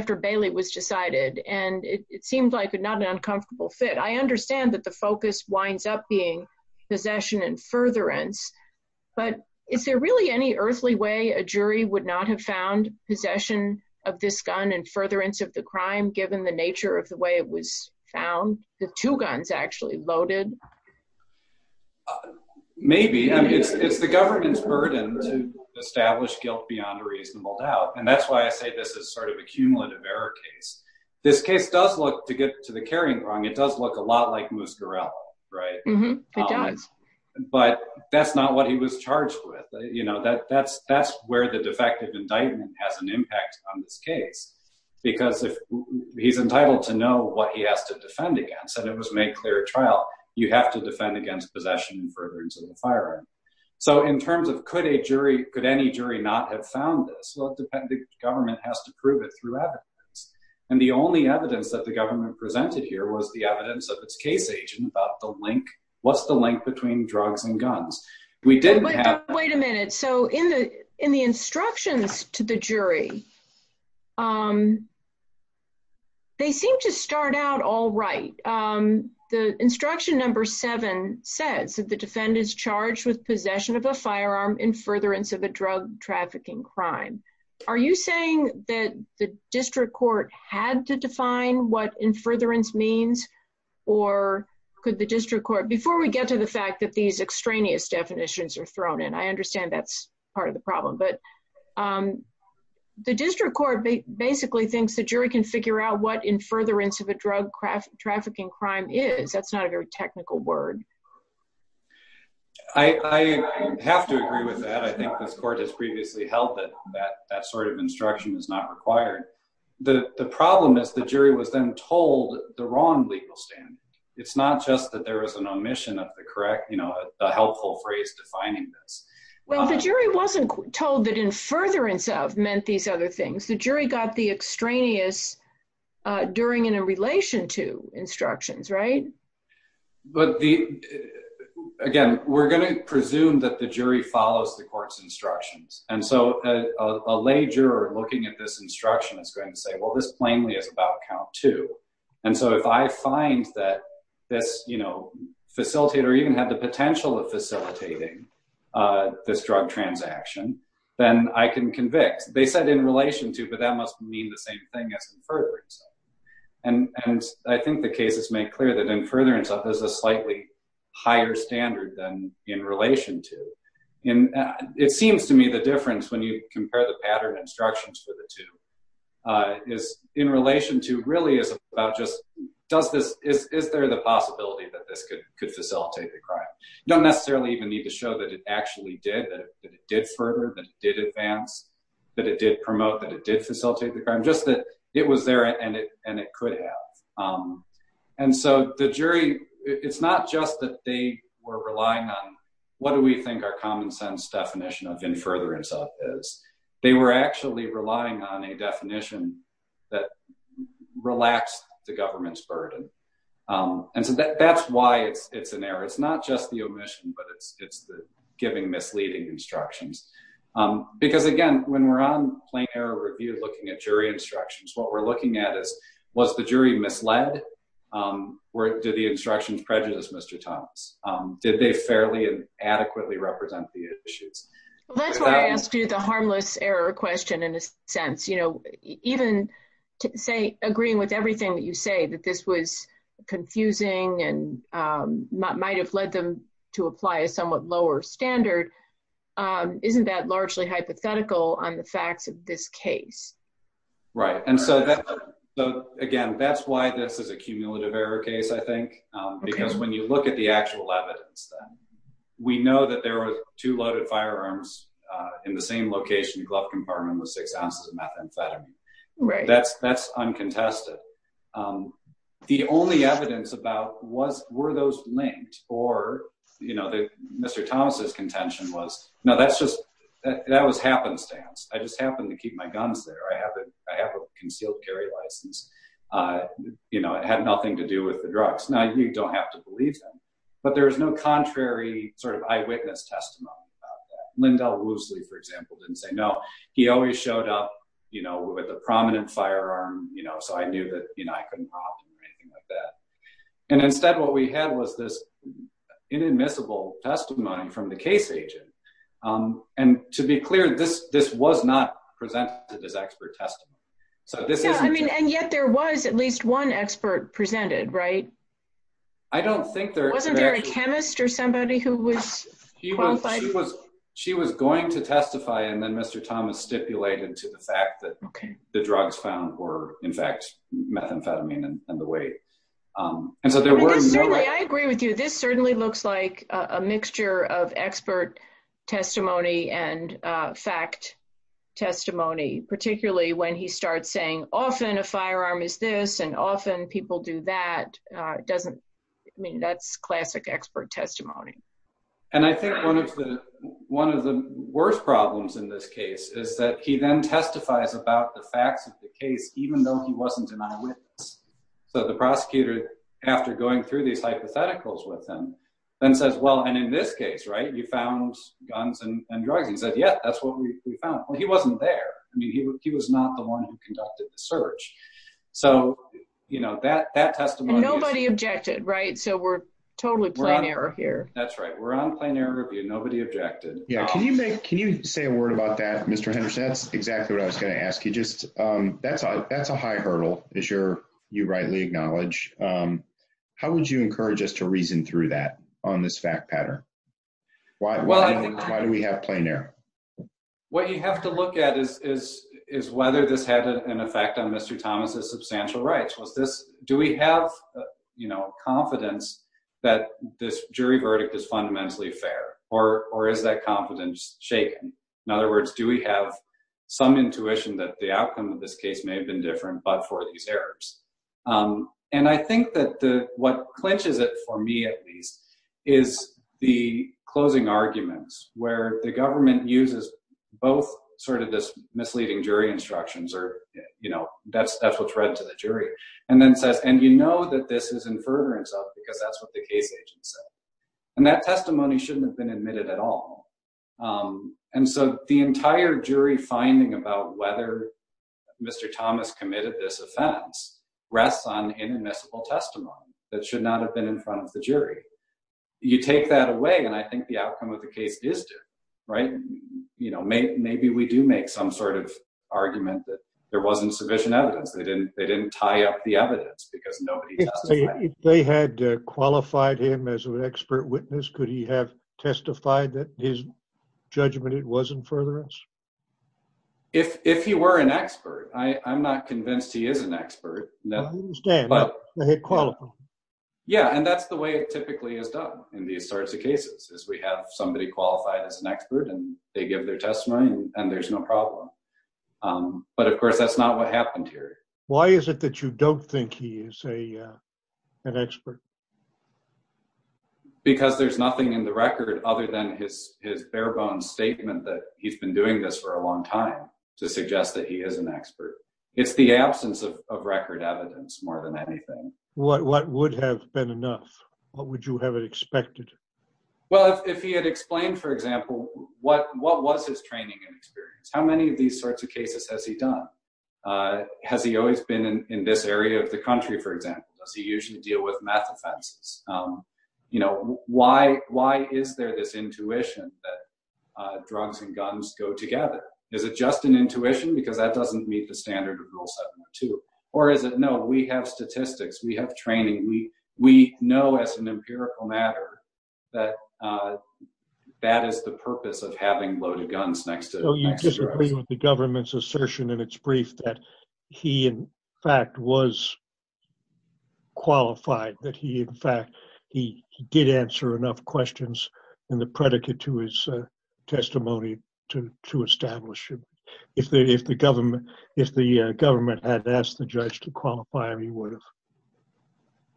after Bailey was decided, and it seemed like not an uncomfortable fit. I understand that the focus winds up being possession and furtherance, but is there really any earthly way a jury would not have found possession of this gun and furtherance of the crime given the nature of the way it was found, the two guns actually loaded? Maybe. I mean, it's the government's burden to establish guilt beyond a reasonable doubt, and that's why I say this is sort of a cumulative error case. This case does look, to get to the carrying wrong, it does look a lot like Moose Gorel, right? It does. But that's not what he was charged with. You know, that's where the defective indictment has an impact on this case, because if he's entitled to know what he has to defend against, and it was made clear at trial, you have to defend against possession and furtherance of the firearm. So in terms of could any jury not have found this? Well, the government has to prove it through evidence, and the only evidence that the government presented here was the evidence of its case agent about the link. What's the link between drugs and guns? We didn't have that. Wait a minute. So in the instructions to the jury, they seem to start out all right. The instruction number seven says that the defendant is charged with possession of a firearm in furtherance of a drug trafficking crime. Are you saying that the district court had to define what in furtherance means, or could the district court, before we get to the fact that these extraneous definitions are thrown in, I understand that's part of the problem, but the district court basically thinks the jury can figure out what in furtherance of a drug trafficking crime is. That's not a very technical word. I have to agree with that. I think this court has previously held that that sort of instruction is not required. The problem is the jury was then told the wrong legal standard. It's not just that there is an omission of the correct, the helpful phrase defining this. Well, the jury wasn't told that in furtherance of meant these other things. The jury got the instructions, right? But again, we're going to presume that the jury follows the court's instructions. And so a lay juror looking at this instruction is going to say, well, this plainly is about count two. And so if I find that this facilitator even had the potential of facilitating this drug transaction, then I can convict. They said in relation to, that must mean the same thing as in furtherance of. And I think the case has made clear that in furtherance of is a slightly higher standard than in relation to. It seems to me the difference when you compare the pattern instructions for the two is in relation to really is about just, is there the possibility that this could facilitate the crime? You don't necessarily even need to show that it actually did, that it did further, that it did advance, that it did promote, that it did facilitate the crime, just that it was there and it could have. And so the jury, it's not just that they were relying on what do we think our common sense definition of in furtherance of is. They were actually relying on a definition that relaxed the government's burden. And so that's why it's an error. It's not just the omission, but it's giving misleading instructions. Because again, when we're on plain error review, looking at jury instructions, what we're looking at is, was the jury misled? Did the instructions prejudice Mr. Thomas? Did they fairly and adequately represent the issues? Well, that's why I asked you the harmless error question in a sense. Even agreeing with everything that you say, that this was confusing and might have led them to apply a somewhat lower standard, isn't that largely hypothetical on the facts of this case? Right. And so again, that's why this is a cumulative error case, I think, because when you look at the actual evidence, we know that there were two loaded firearms in the same location, glove compartment with six ounces of methamphetamine. That's uncontested. The only evidence about, were those linked? Or Mr. Thomas's contention was, no, that was happenstance. I just happened to keep my guns there. I have a concealed carry license. It had nothing to do with the drugs. Now, you don't have to believe them, but there was no contrary eyewitness testimony about that. Lindell Woosley, for example, didn't say no. He always showed up with a prominent firearm, so I knew that I couldn't talk or anything like that. And instead, what we had was this inadmissible testimony from the case agent. And to be clear, this was not presented as expert testimony. And yet there was at least one expert presented, right? Wasn't there a chemist or somebody who was qualified? She was going to testify, and then Mr. Thomas stipulated to the fact that the drugs found were, in fact, methamphetamine and the weight. And so there were- I agree with you. This certainly looks like a mixture of expert testimony and fact testimony, particularly when he starts saying, often a firearm is this, and often people do that. I mean, that's classic expert testimony. And I think one of the worst problems in this case is that he then testifies about the facts of the case, even though he wasn't an eyewitness. So the prosecutor, after going through these hypotheticals with him, then says, well, and in this case, right, you found guns and drugs. He said, yeah, that's what we found. Well, he wasn't there. I mean, he was not the one who conducted the search. So that testimony- And nobody objected, right? So we're totally plain error here. That's right. We're on plain error here. Nobody objected. Yeah. Can you say a word about that, Mr. Henderson? That's exactly what I was going to ask you. That's a high hurdle, as you rightly acknowledge. How would you encourage us to reason through that on this fact pattern? Why do we have plain error? What you have to look at is whether this had an effect on Mr. Thomas's substantial rights. Do we have confidence that this jury verdict is fundamentally fair, or is that confidence shaken? In other words, do we have some intuition that the outcome of this case may have been different, but for these errors? And I think that what clinches it for me, at least, is the closing arguments where the government uses both this misleading jury instructions, or that's what's read to the jury, and then says, and you know that this is in furtherance of, because that's what the case agent said. And that testimony shouldn't have been admitted at all. And so the entire jury finding about whether Mr. Thomas committed this offense rests on inadmissible testimony that should not have been in front of the jury. You take that away, and I think the outcome of the case is different, right? Maybe we do make some sort of argument that there wasn't sufficient evidence. They didn't tie up the evidence because nobody testified. If they had qualified him as an expert witness, could he have testified that his judgment, it wasn't furtherance? If he were an expert, I'm not convinced he is an expert. I understand, but they had qualified him. Yeah, and that's the way it typically is done in these cases, is we have somebody qualified as an expert, and they give their testimony, and there's no problem. But of course, that's not what happened here. Why is it that you don't think he is an expert? Because there's nothing in the record other than his bare bones statement that he's been doing this for a long time to suggest that he is an expert. It's the absence of record evidence more than anything. What would have been enough? What would you have expected? Well, if he had explained, for example, what was his training and experience, how many of these sorts of cases has he done? Has he always been in this area of the country, for example? Does he usually deal with math offenses? Why is there this intuition that drugs and guns go together? Is it just an intuition? Because that doesn't meet the statistics. We have training. We know as an empirical matter that that is the purpose of having loaded guns next to drugs. So you disagree with the government's assertion in its brief that he, in fact, was qualified, that he, in fact, he did answer enough questions in the predicate to his testimony to establish him. If the government had asked the government to do that, would they have done that?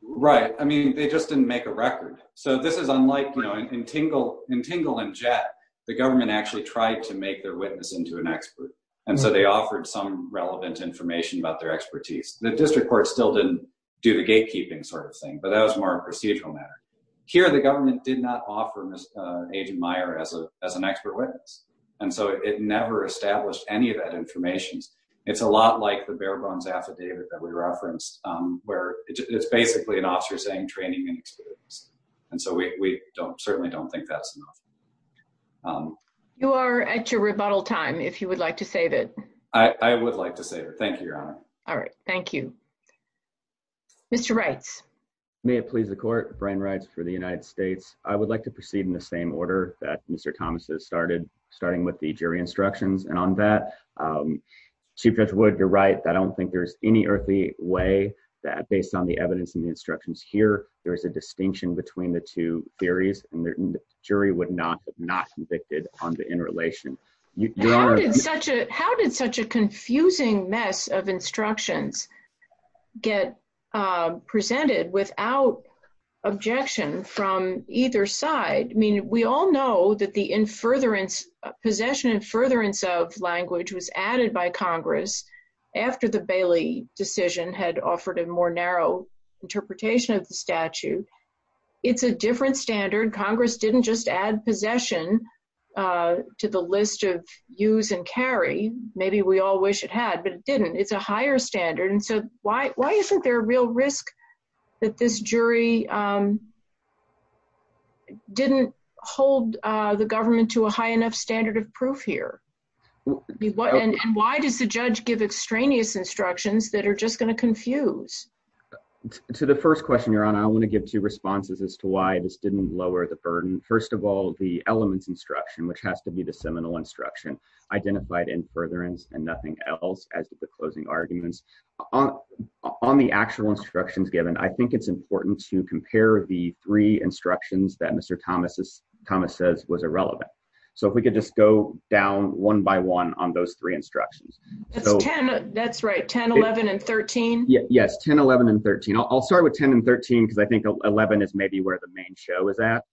Right. I mean, they just didn't make a record. So this is unlike, you know, in Tingle and Jett, the government actually tried to make their witness into an expert. And so they offered some relevant information about their expertise. The district court still didn't do the gatekeeping sort of thing, but that was more a procedural matter. Here, the government did not offer Agent Meyer as an expert witness. And so it never established any of that information. It's a lot like the bare bones affidavit that we referenced, where it's basically an officer saying training and experience. And so we certainly don't think that's enough. You are at your rebuttal time, if you would like to save it. I would like to save it. Thank you, Your Honor. All right. Thank you. Mr. Reitz. May it please the court, Brian Reitz for the United States. I would like to proceed in the order that Mr. Thomas has started, starting with the jury instructions. And on that, Chief Judge Wood, you're right. I don't think there's any earthly way that based on the evidence and the instructions here, there is a distinction between the two theories and the jury would not have not convicted on the interrelation. How did such a confusing mess of instructions get presented without objection from either side? I mean, we all know that the infuriarance, possession and furtherance of language was added by Congress after the Bailey decision had offered a more narrow interpretation of the statute. It's a different standard. Congress didn't just add possession to the list of use and carry. Maybe we all wish it had, but it didn't. It's a higher standard. And so why isn't there a real risk that this jury didn't hold the government to a high enough standard of proof here? And why does the judge give extraneous instructions that are just going to confuse? To the first question, Your Honor, I want to give two responses as to why this didn't lower the burden. First of all, the elements instruction, which has to be the seminal instruction identified in furtherance and nothing else as the closing arguments on the actual instructions given, I think it's important to compare the three instructions that Mr. Thomas says was irrelevant. So if we could just go down one by one on those three instructions. That's right. 10, 11 and 13. Yes, 10, 11 and 13. I'll start with 10 and 13 because I think 11 is maybe where the main show is at.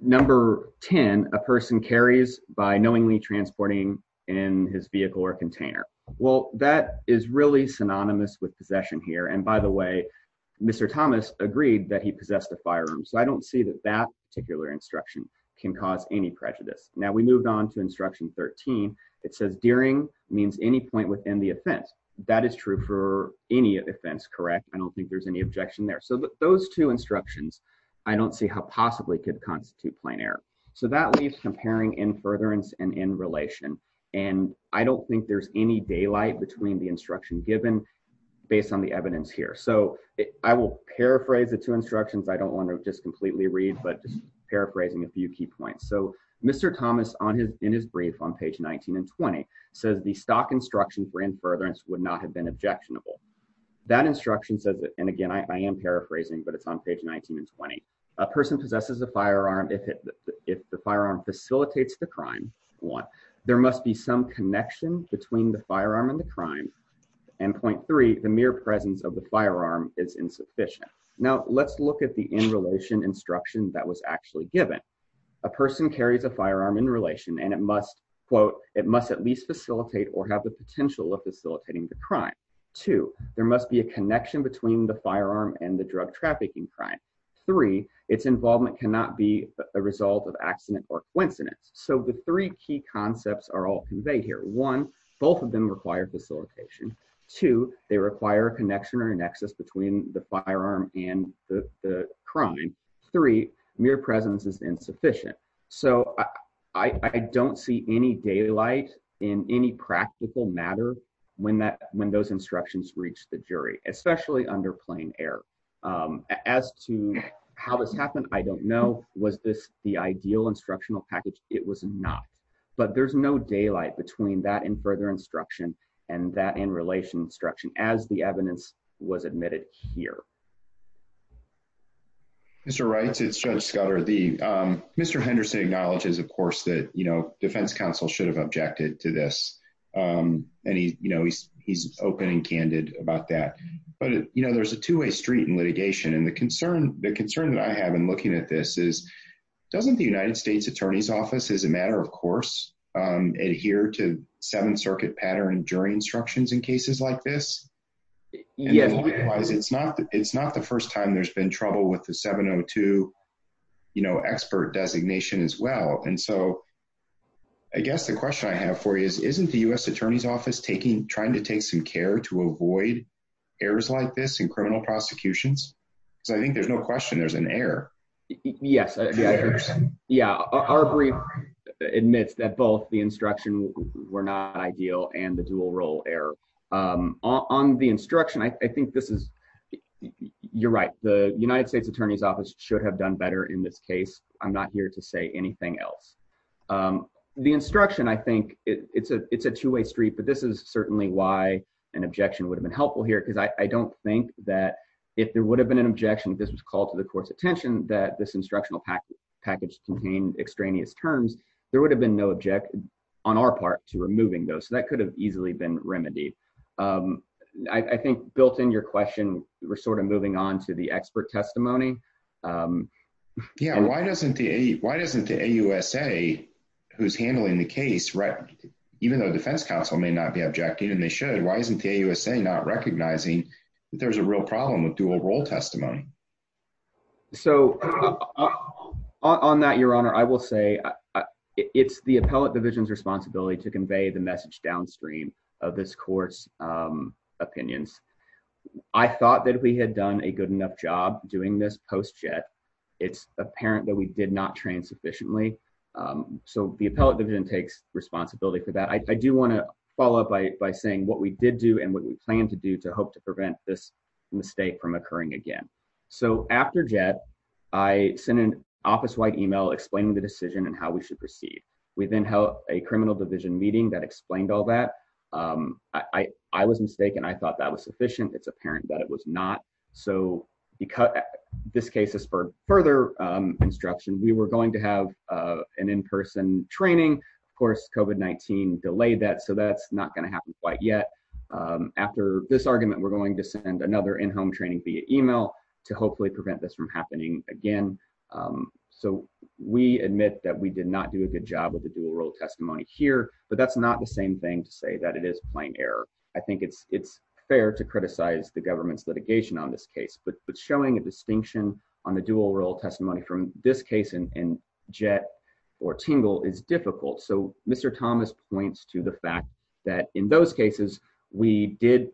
Number 10, a person carries by knowingly transporting in his vehicle or container. Well, that is really synonymous with possession here. And by the way, Mr. Thomas agreed that he possessed a firearm. So I don't see that that particular instruction can cause any prejudice. Now we moved on to instruction 13. It says dearing means any point within the offense. That is true for any offense, correct? I don't think there's any objection there. So those two instructions, I don't see how possibly could constitute plain error. So that leaves comparing in furtherance and in relation. And I don't think there's any daylight between the instruction given based on the evidence here. So I will paraphrase the two instructions. I don't want to just completely read, but paraphrasing a few key points. So Mr. Thomas in his brief on page 19 and 20 says the stock instruction for in furtherance would not have been objectionable. That instruction says that, and again, I am paraphrasing, but it's on page 19 and 20. A person possesses a firearm if the firearm facilitates the crime. One, there must be some connection between the firearm and the crime. And point three, the mere presence of the firearm is insufficient. Now let's look at the in relation instruction that was actually given. A person carries a firearm in relation and it must, quote, it must at least facilitate or have the potential of facilitating the crime. Two, there must be a connection between the firearm and the drug trafficking crime. Three, its involvement cannot be a result of accident or coincidence. So the three key concepts are all conveyed here. One, both of them require facilitation. Two, they require a connection or a nexus between the firearm and the crime. Three, mere presence is insufficient. So I don't see any daylight in any practical matter when those instructions reach the jury, especially under plain air. As to how this happened, I don't know. Was this the ideal instructional package? It was not. But there's no daylight between that in further instruction and that in relation instruction as the evidence was admitted here. Judge Scudder. Mr. Wright, it's Judge Scudder. Mr. Henderson acknowledges, of course, that, you know, defense counsel should have objected to this. And, you know, he's open and candid about that. But, you know, there's a two-way street in litigation. And the concern that I have in looking at this is, doesn't the United States Attorney's Office, as a matter of course, adhere to Seventh Circuit pattern and jury instructions in cases like this? Yes. It's not the first time there's been trouble with the 702, you know, expert designation as well. And so I guess the question I have for you is, isn't the U.S. Attorney's Office taking, trying to take some care to avoid errors like this in criminal prosecutions? Because I think there's no question there's an error. Yes. Yeah. Our brief admits that both the instruction were not ideal and the dual role error. On the instruction, I think this is, you're right. The United States Attorney's Office should have done better in this case. I'm not here to say anything else. The instruction, I think it's a two-way street, but this is certainly why an objection would have been helpful here. Because I don't think that if there would have been an objection, if this was called to the court's attention, that this instructional package contained extraneous terms, there would have been no part to removing those. So that could have easily been remedied. I think built in your question, we're sort of moving on to the expert testimony. Yeah. Why doesn't the AUSA, who's handling the case, right, even though defense counsel may not be objecting and they should, why isn't the AUSA not recognizing that there's a real problem with dual role testimony? So on that, Your Honor, I will say it's the appellate division's responsibility to convey the message downstream of this court's opinions. I thought that we had done a good enough job doing this post-jet. It's apparent that we did not train sufficiently. So the appellate division takes responsibility for that. I do want to follow up by saying what we did do and what we plan to do to hope to prevent this mistake from occurring again. So after jet, I sent an office-wide email explaining the decision and how we should proceed. We then held a criminal division meeting that explained all that. I was mistaken. I thought that was sufficient. It's apparent that it was not. So this case has spurred further instruction. We were going to have an in-person training. Of course, that's not going to happen quite yet. After this argument, we're going to send another in-home training via email to hopefully prevent this from happening again. So we admit that we did not do a good job with the dual role testimony here, but that's not the same thing to say that it is plain error. I think it's fair to criticize the government's litigation on this case, but showing a distinction on the dual role testimony from this case in jet or tingle is difficult. So Mr. Thomas points to the fact that in those cases, we did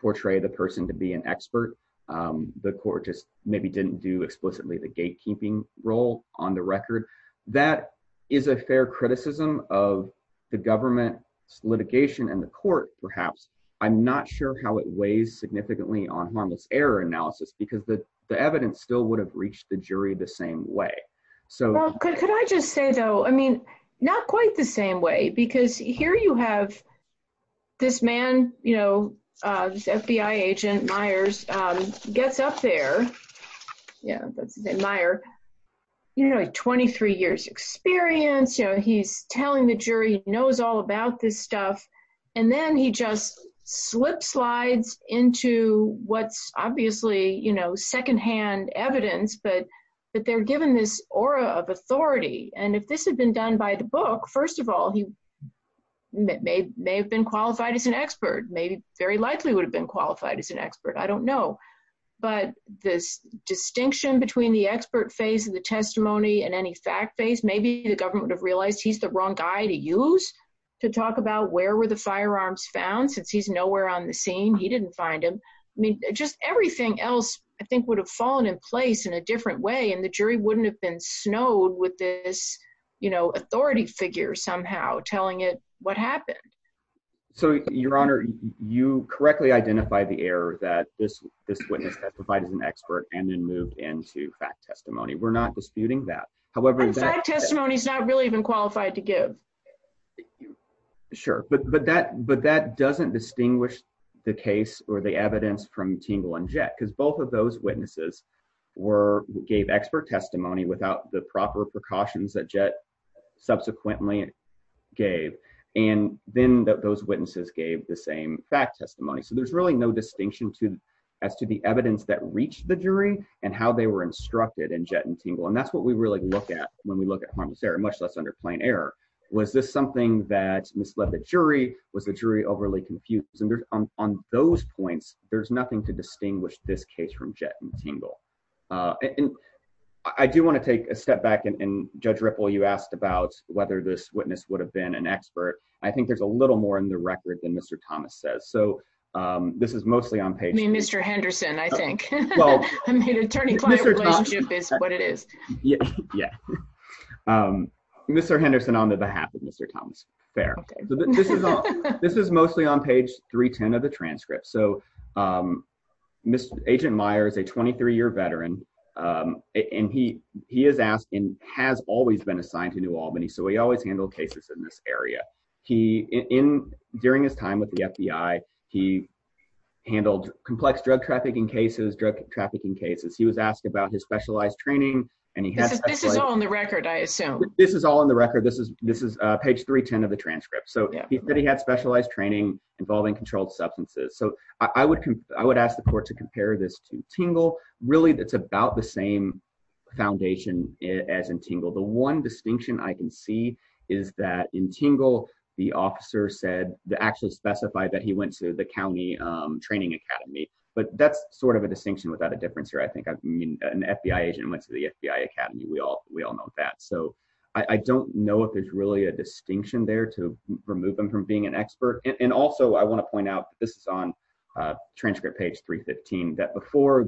portray the person to be an expert. The court just maybe didn't do explicitly the gatekeeping role on the record. That is a fair criticism of the government's litigation and the court, perhaps. I'm not sure how it weighs significantly on harmless error analysis because the evidence still would have reached the jury the same way. Well, could I just say though, I mean, not quite the same way because here you have this man, this FBI agent Myers gets up there. Yeah, let's say Meyer, you know, 23 years experience. He's telling the jury he knows all about this stuff and then he just slip slides into what's obviously, you know, secondhand evidence, but that they're given this aura of authority and if this had been done by the book, first of all, he may have been qualified as an expert, maybe very likely would have been qualified as an expert. I don't know, but this distinction between the expert phase of the testimony and any fact phase, maybe the government would have realized he's the wrong guy to use to talk about where were the firearms found since he's nowhere on the scene. He didn't find him. I mean, just everything else I think would have fallen in place in a different way and the jury wouldn't have been snowed with this, you know, authority figure somehow telling it what happened. So, your honor, you correctly identify the error that this witness testified as an expert and then moved into fact testimony. We're not disputing that. Fact testimony is not really even qualified to give. Sure, but that doesn't distinguish the case or the evidence from Tingle and Jett, because both of those witnesses gave expert testimony without the proper precautions that Jett subsequently gave and then those witnesses gave the same fact testimony. So, there's really no and that's what we really look at when we look at harmless error, much less under plain error. Was this something that misled the jury? Was the jury overly confused? And on those points, there's nothing to distinguish this case from Jett and Tingle. And I do want to take a step back and Judge Ripple, you asked about whether this witness would have been an expert. I think there's a little more in the record than Mr. Thomas says. So, this is mostly on page- Yeah. Mr. Henderson on the behalf of Mr. Thomas Fair. This is mostly on page 310 of the transcript. Agent Meyer is a 23-year veteran and he has always been assigned to New Albany. So, he always handled cases in this area. During his time with the FBI, he handled complex drug trafficking cases, drug trafficking cases. He was asked about his specialized training and he had- This is all in the record, I assume. This is all in the record. This is page 310 of the transcript. So, he said he had specialized training involving controlled substances. So, I would ask the court to compare this to Tingle. Really, it's about the same foundation as in Tingle. The one distinction I can see is that in Tingle, the officer said, they actually specified that he went to the county training academy. But that's sort of a distinction without a difference here. I think an FBI agent went to the FBI academy. We all know that. So, I don't know if there's really a distinction there to remove him from being an expert. And also, I want to point out, this is on transcript page 315, that before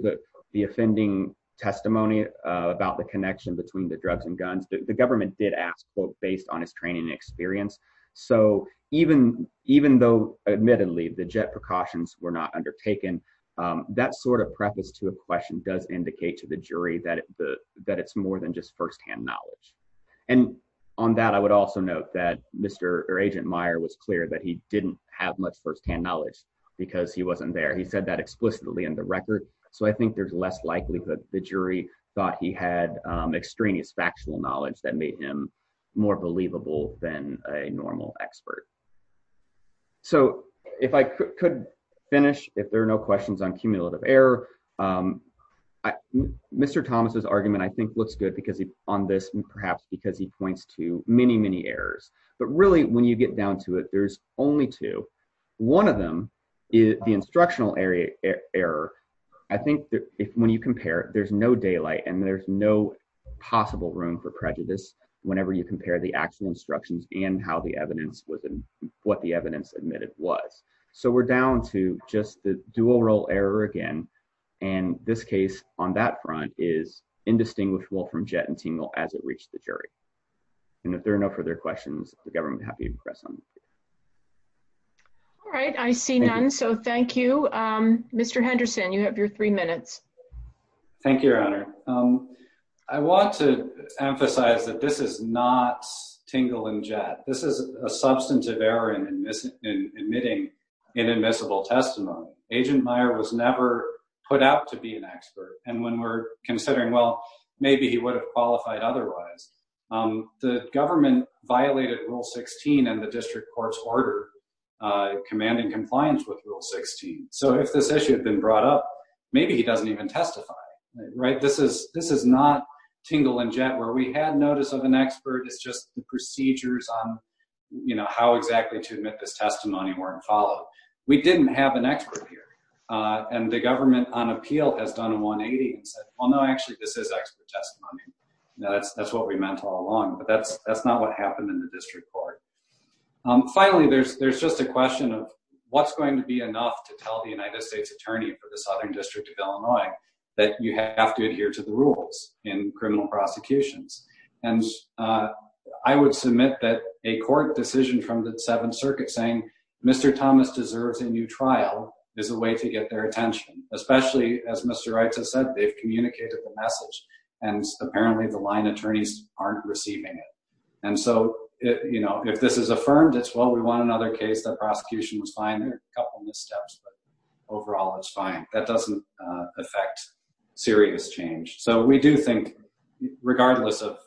the offending testimony about the connection between the drugs and guns, the government did ask, quote, based on his training and experience. So, even though, admittedly, the JET precautions were not undertaken, that sort of preface to a question does indicate to the jury that it's more than just firsthand knowledge. And on that, I would also note that Agent Meyer was clear that he didn't have much firsthand knowledge because he wasn't there. He said that explicitly in the record. So, I think there's less likelihood the jury thought he had extraneous factual knowledge that made him more believable than a normal expert. So, if I could finish, if there are no questions on cumulative error, Mr. Thomas's argument, I think, looks good on this, perhaps, because he points to many, many errors. But really, when you get down to it, there's only two. One of them is the instructional error. I think that when you compare, there's no daylight and there's no possible room for prejudice whenever you compare the actual instructions and how the evidence was what the evidence admitted was. So, we're down to just the dual role error again. And this case, on that front, is indistinguishable from JET and Tingle as it reached the jury. And if there are no further questions, the government would be happy to press on. All right. I see none. So, thank you. Mr. Henderson, you have your three minutes. Thank you, Your Honor. I want to emphasize that this is not a cumulative error in admitting inadmissible testimony. Agent Meyer was never put out to be an expert. And when we're considering, well, maybe he would have qualified otherwise, the government violated Rule 16 and the district court's order commanding compliance with Rule 16. So, if this issue had been brought up, maybe he doesn't even testify, right? This is not Tingle and JET where we had notice of an expert. It's just the procedures on how exactly to admit this testimony weren't followed. We didn't have an expert here. And the government on appeal has done a 180 and said, well, no, actually, this is expert testimony. That's what we meant all along. But that's not what happened in the district court. Finally, there's just a question of what's going to be enough to tell the United States attorney for the Southern District of Illinois that you have to adhere to the rules in criminal prosecutions. And I would submit that a court decision from the Seventh Circuit saying Mr. Thomas deserves a new trial is a way to get their attention, especially as Mr. Wright has said, they've communicated the message and apparently the line attorneys aren't receiving it. And so, if this is affirmed, it's, well, we want another case. The prosecution was fine. There are a couple of missteps, but overall, it's fine. That doesn't affect serious change. So, we do think, regardless of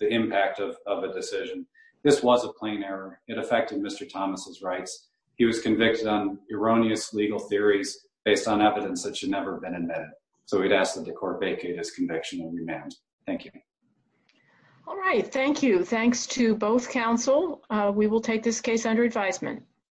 the impact of a decision, this was a plain error. It affected Mr. Thomas's rights. He was convicted on erroneous legal theories based on evidence that should never have been admitted. So, we'd ask that the court vacate his conviction and remand. Thank you. All right. Thank you. Thanks to both counsel. We will take this case under advisement.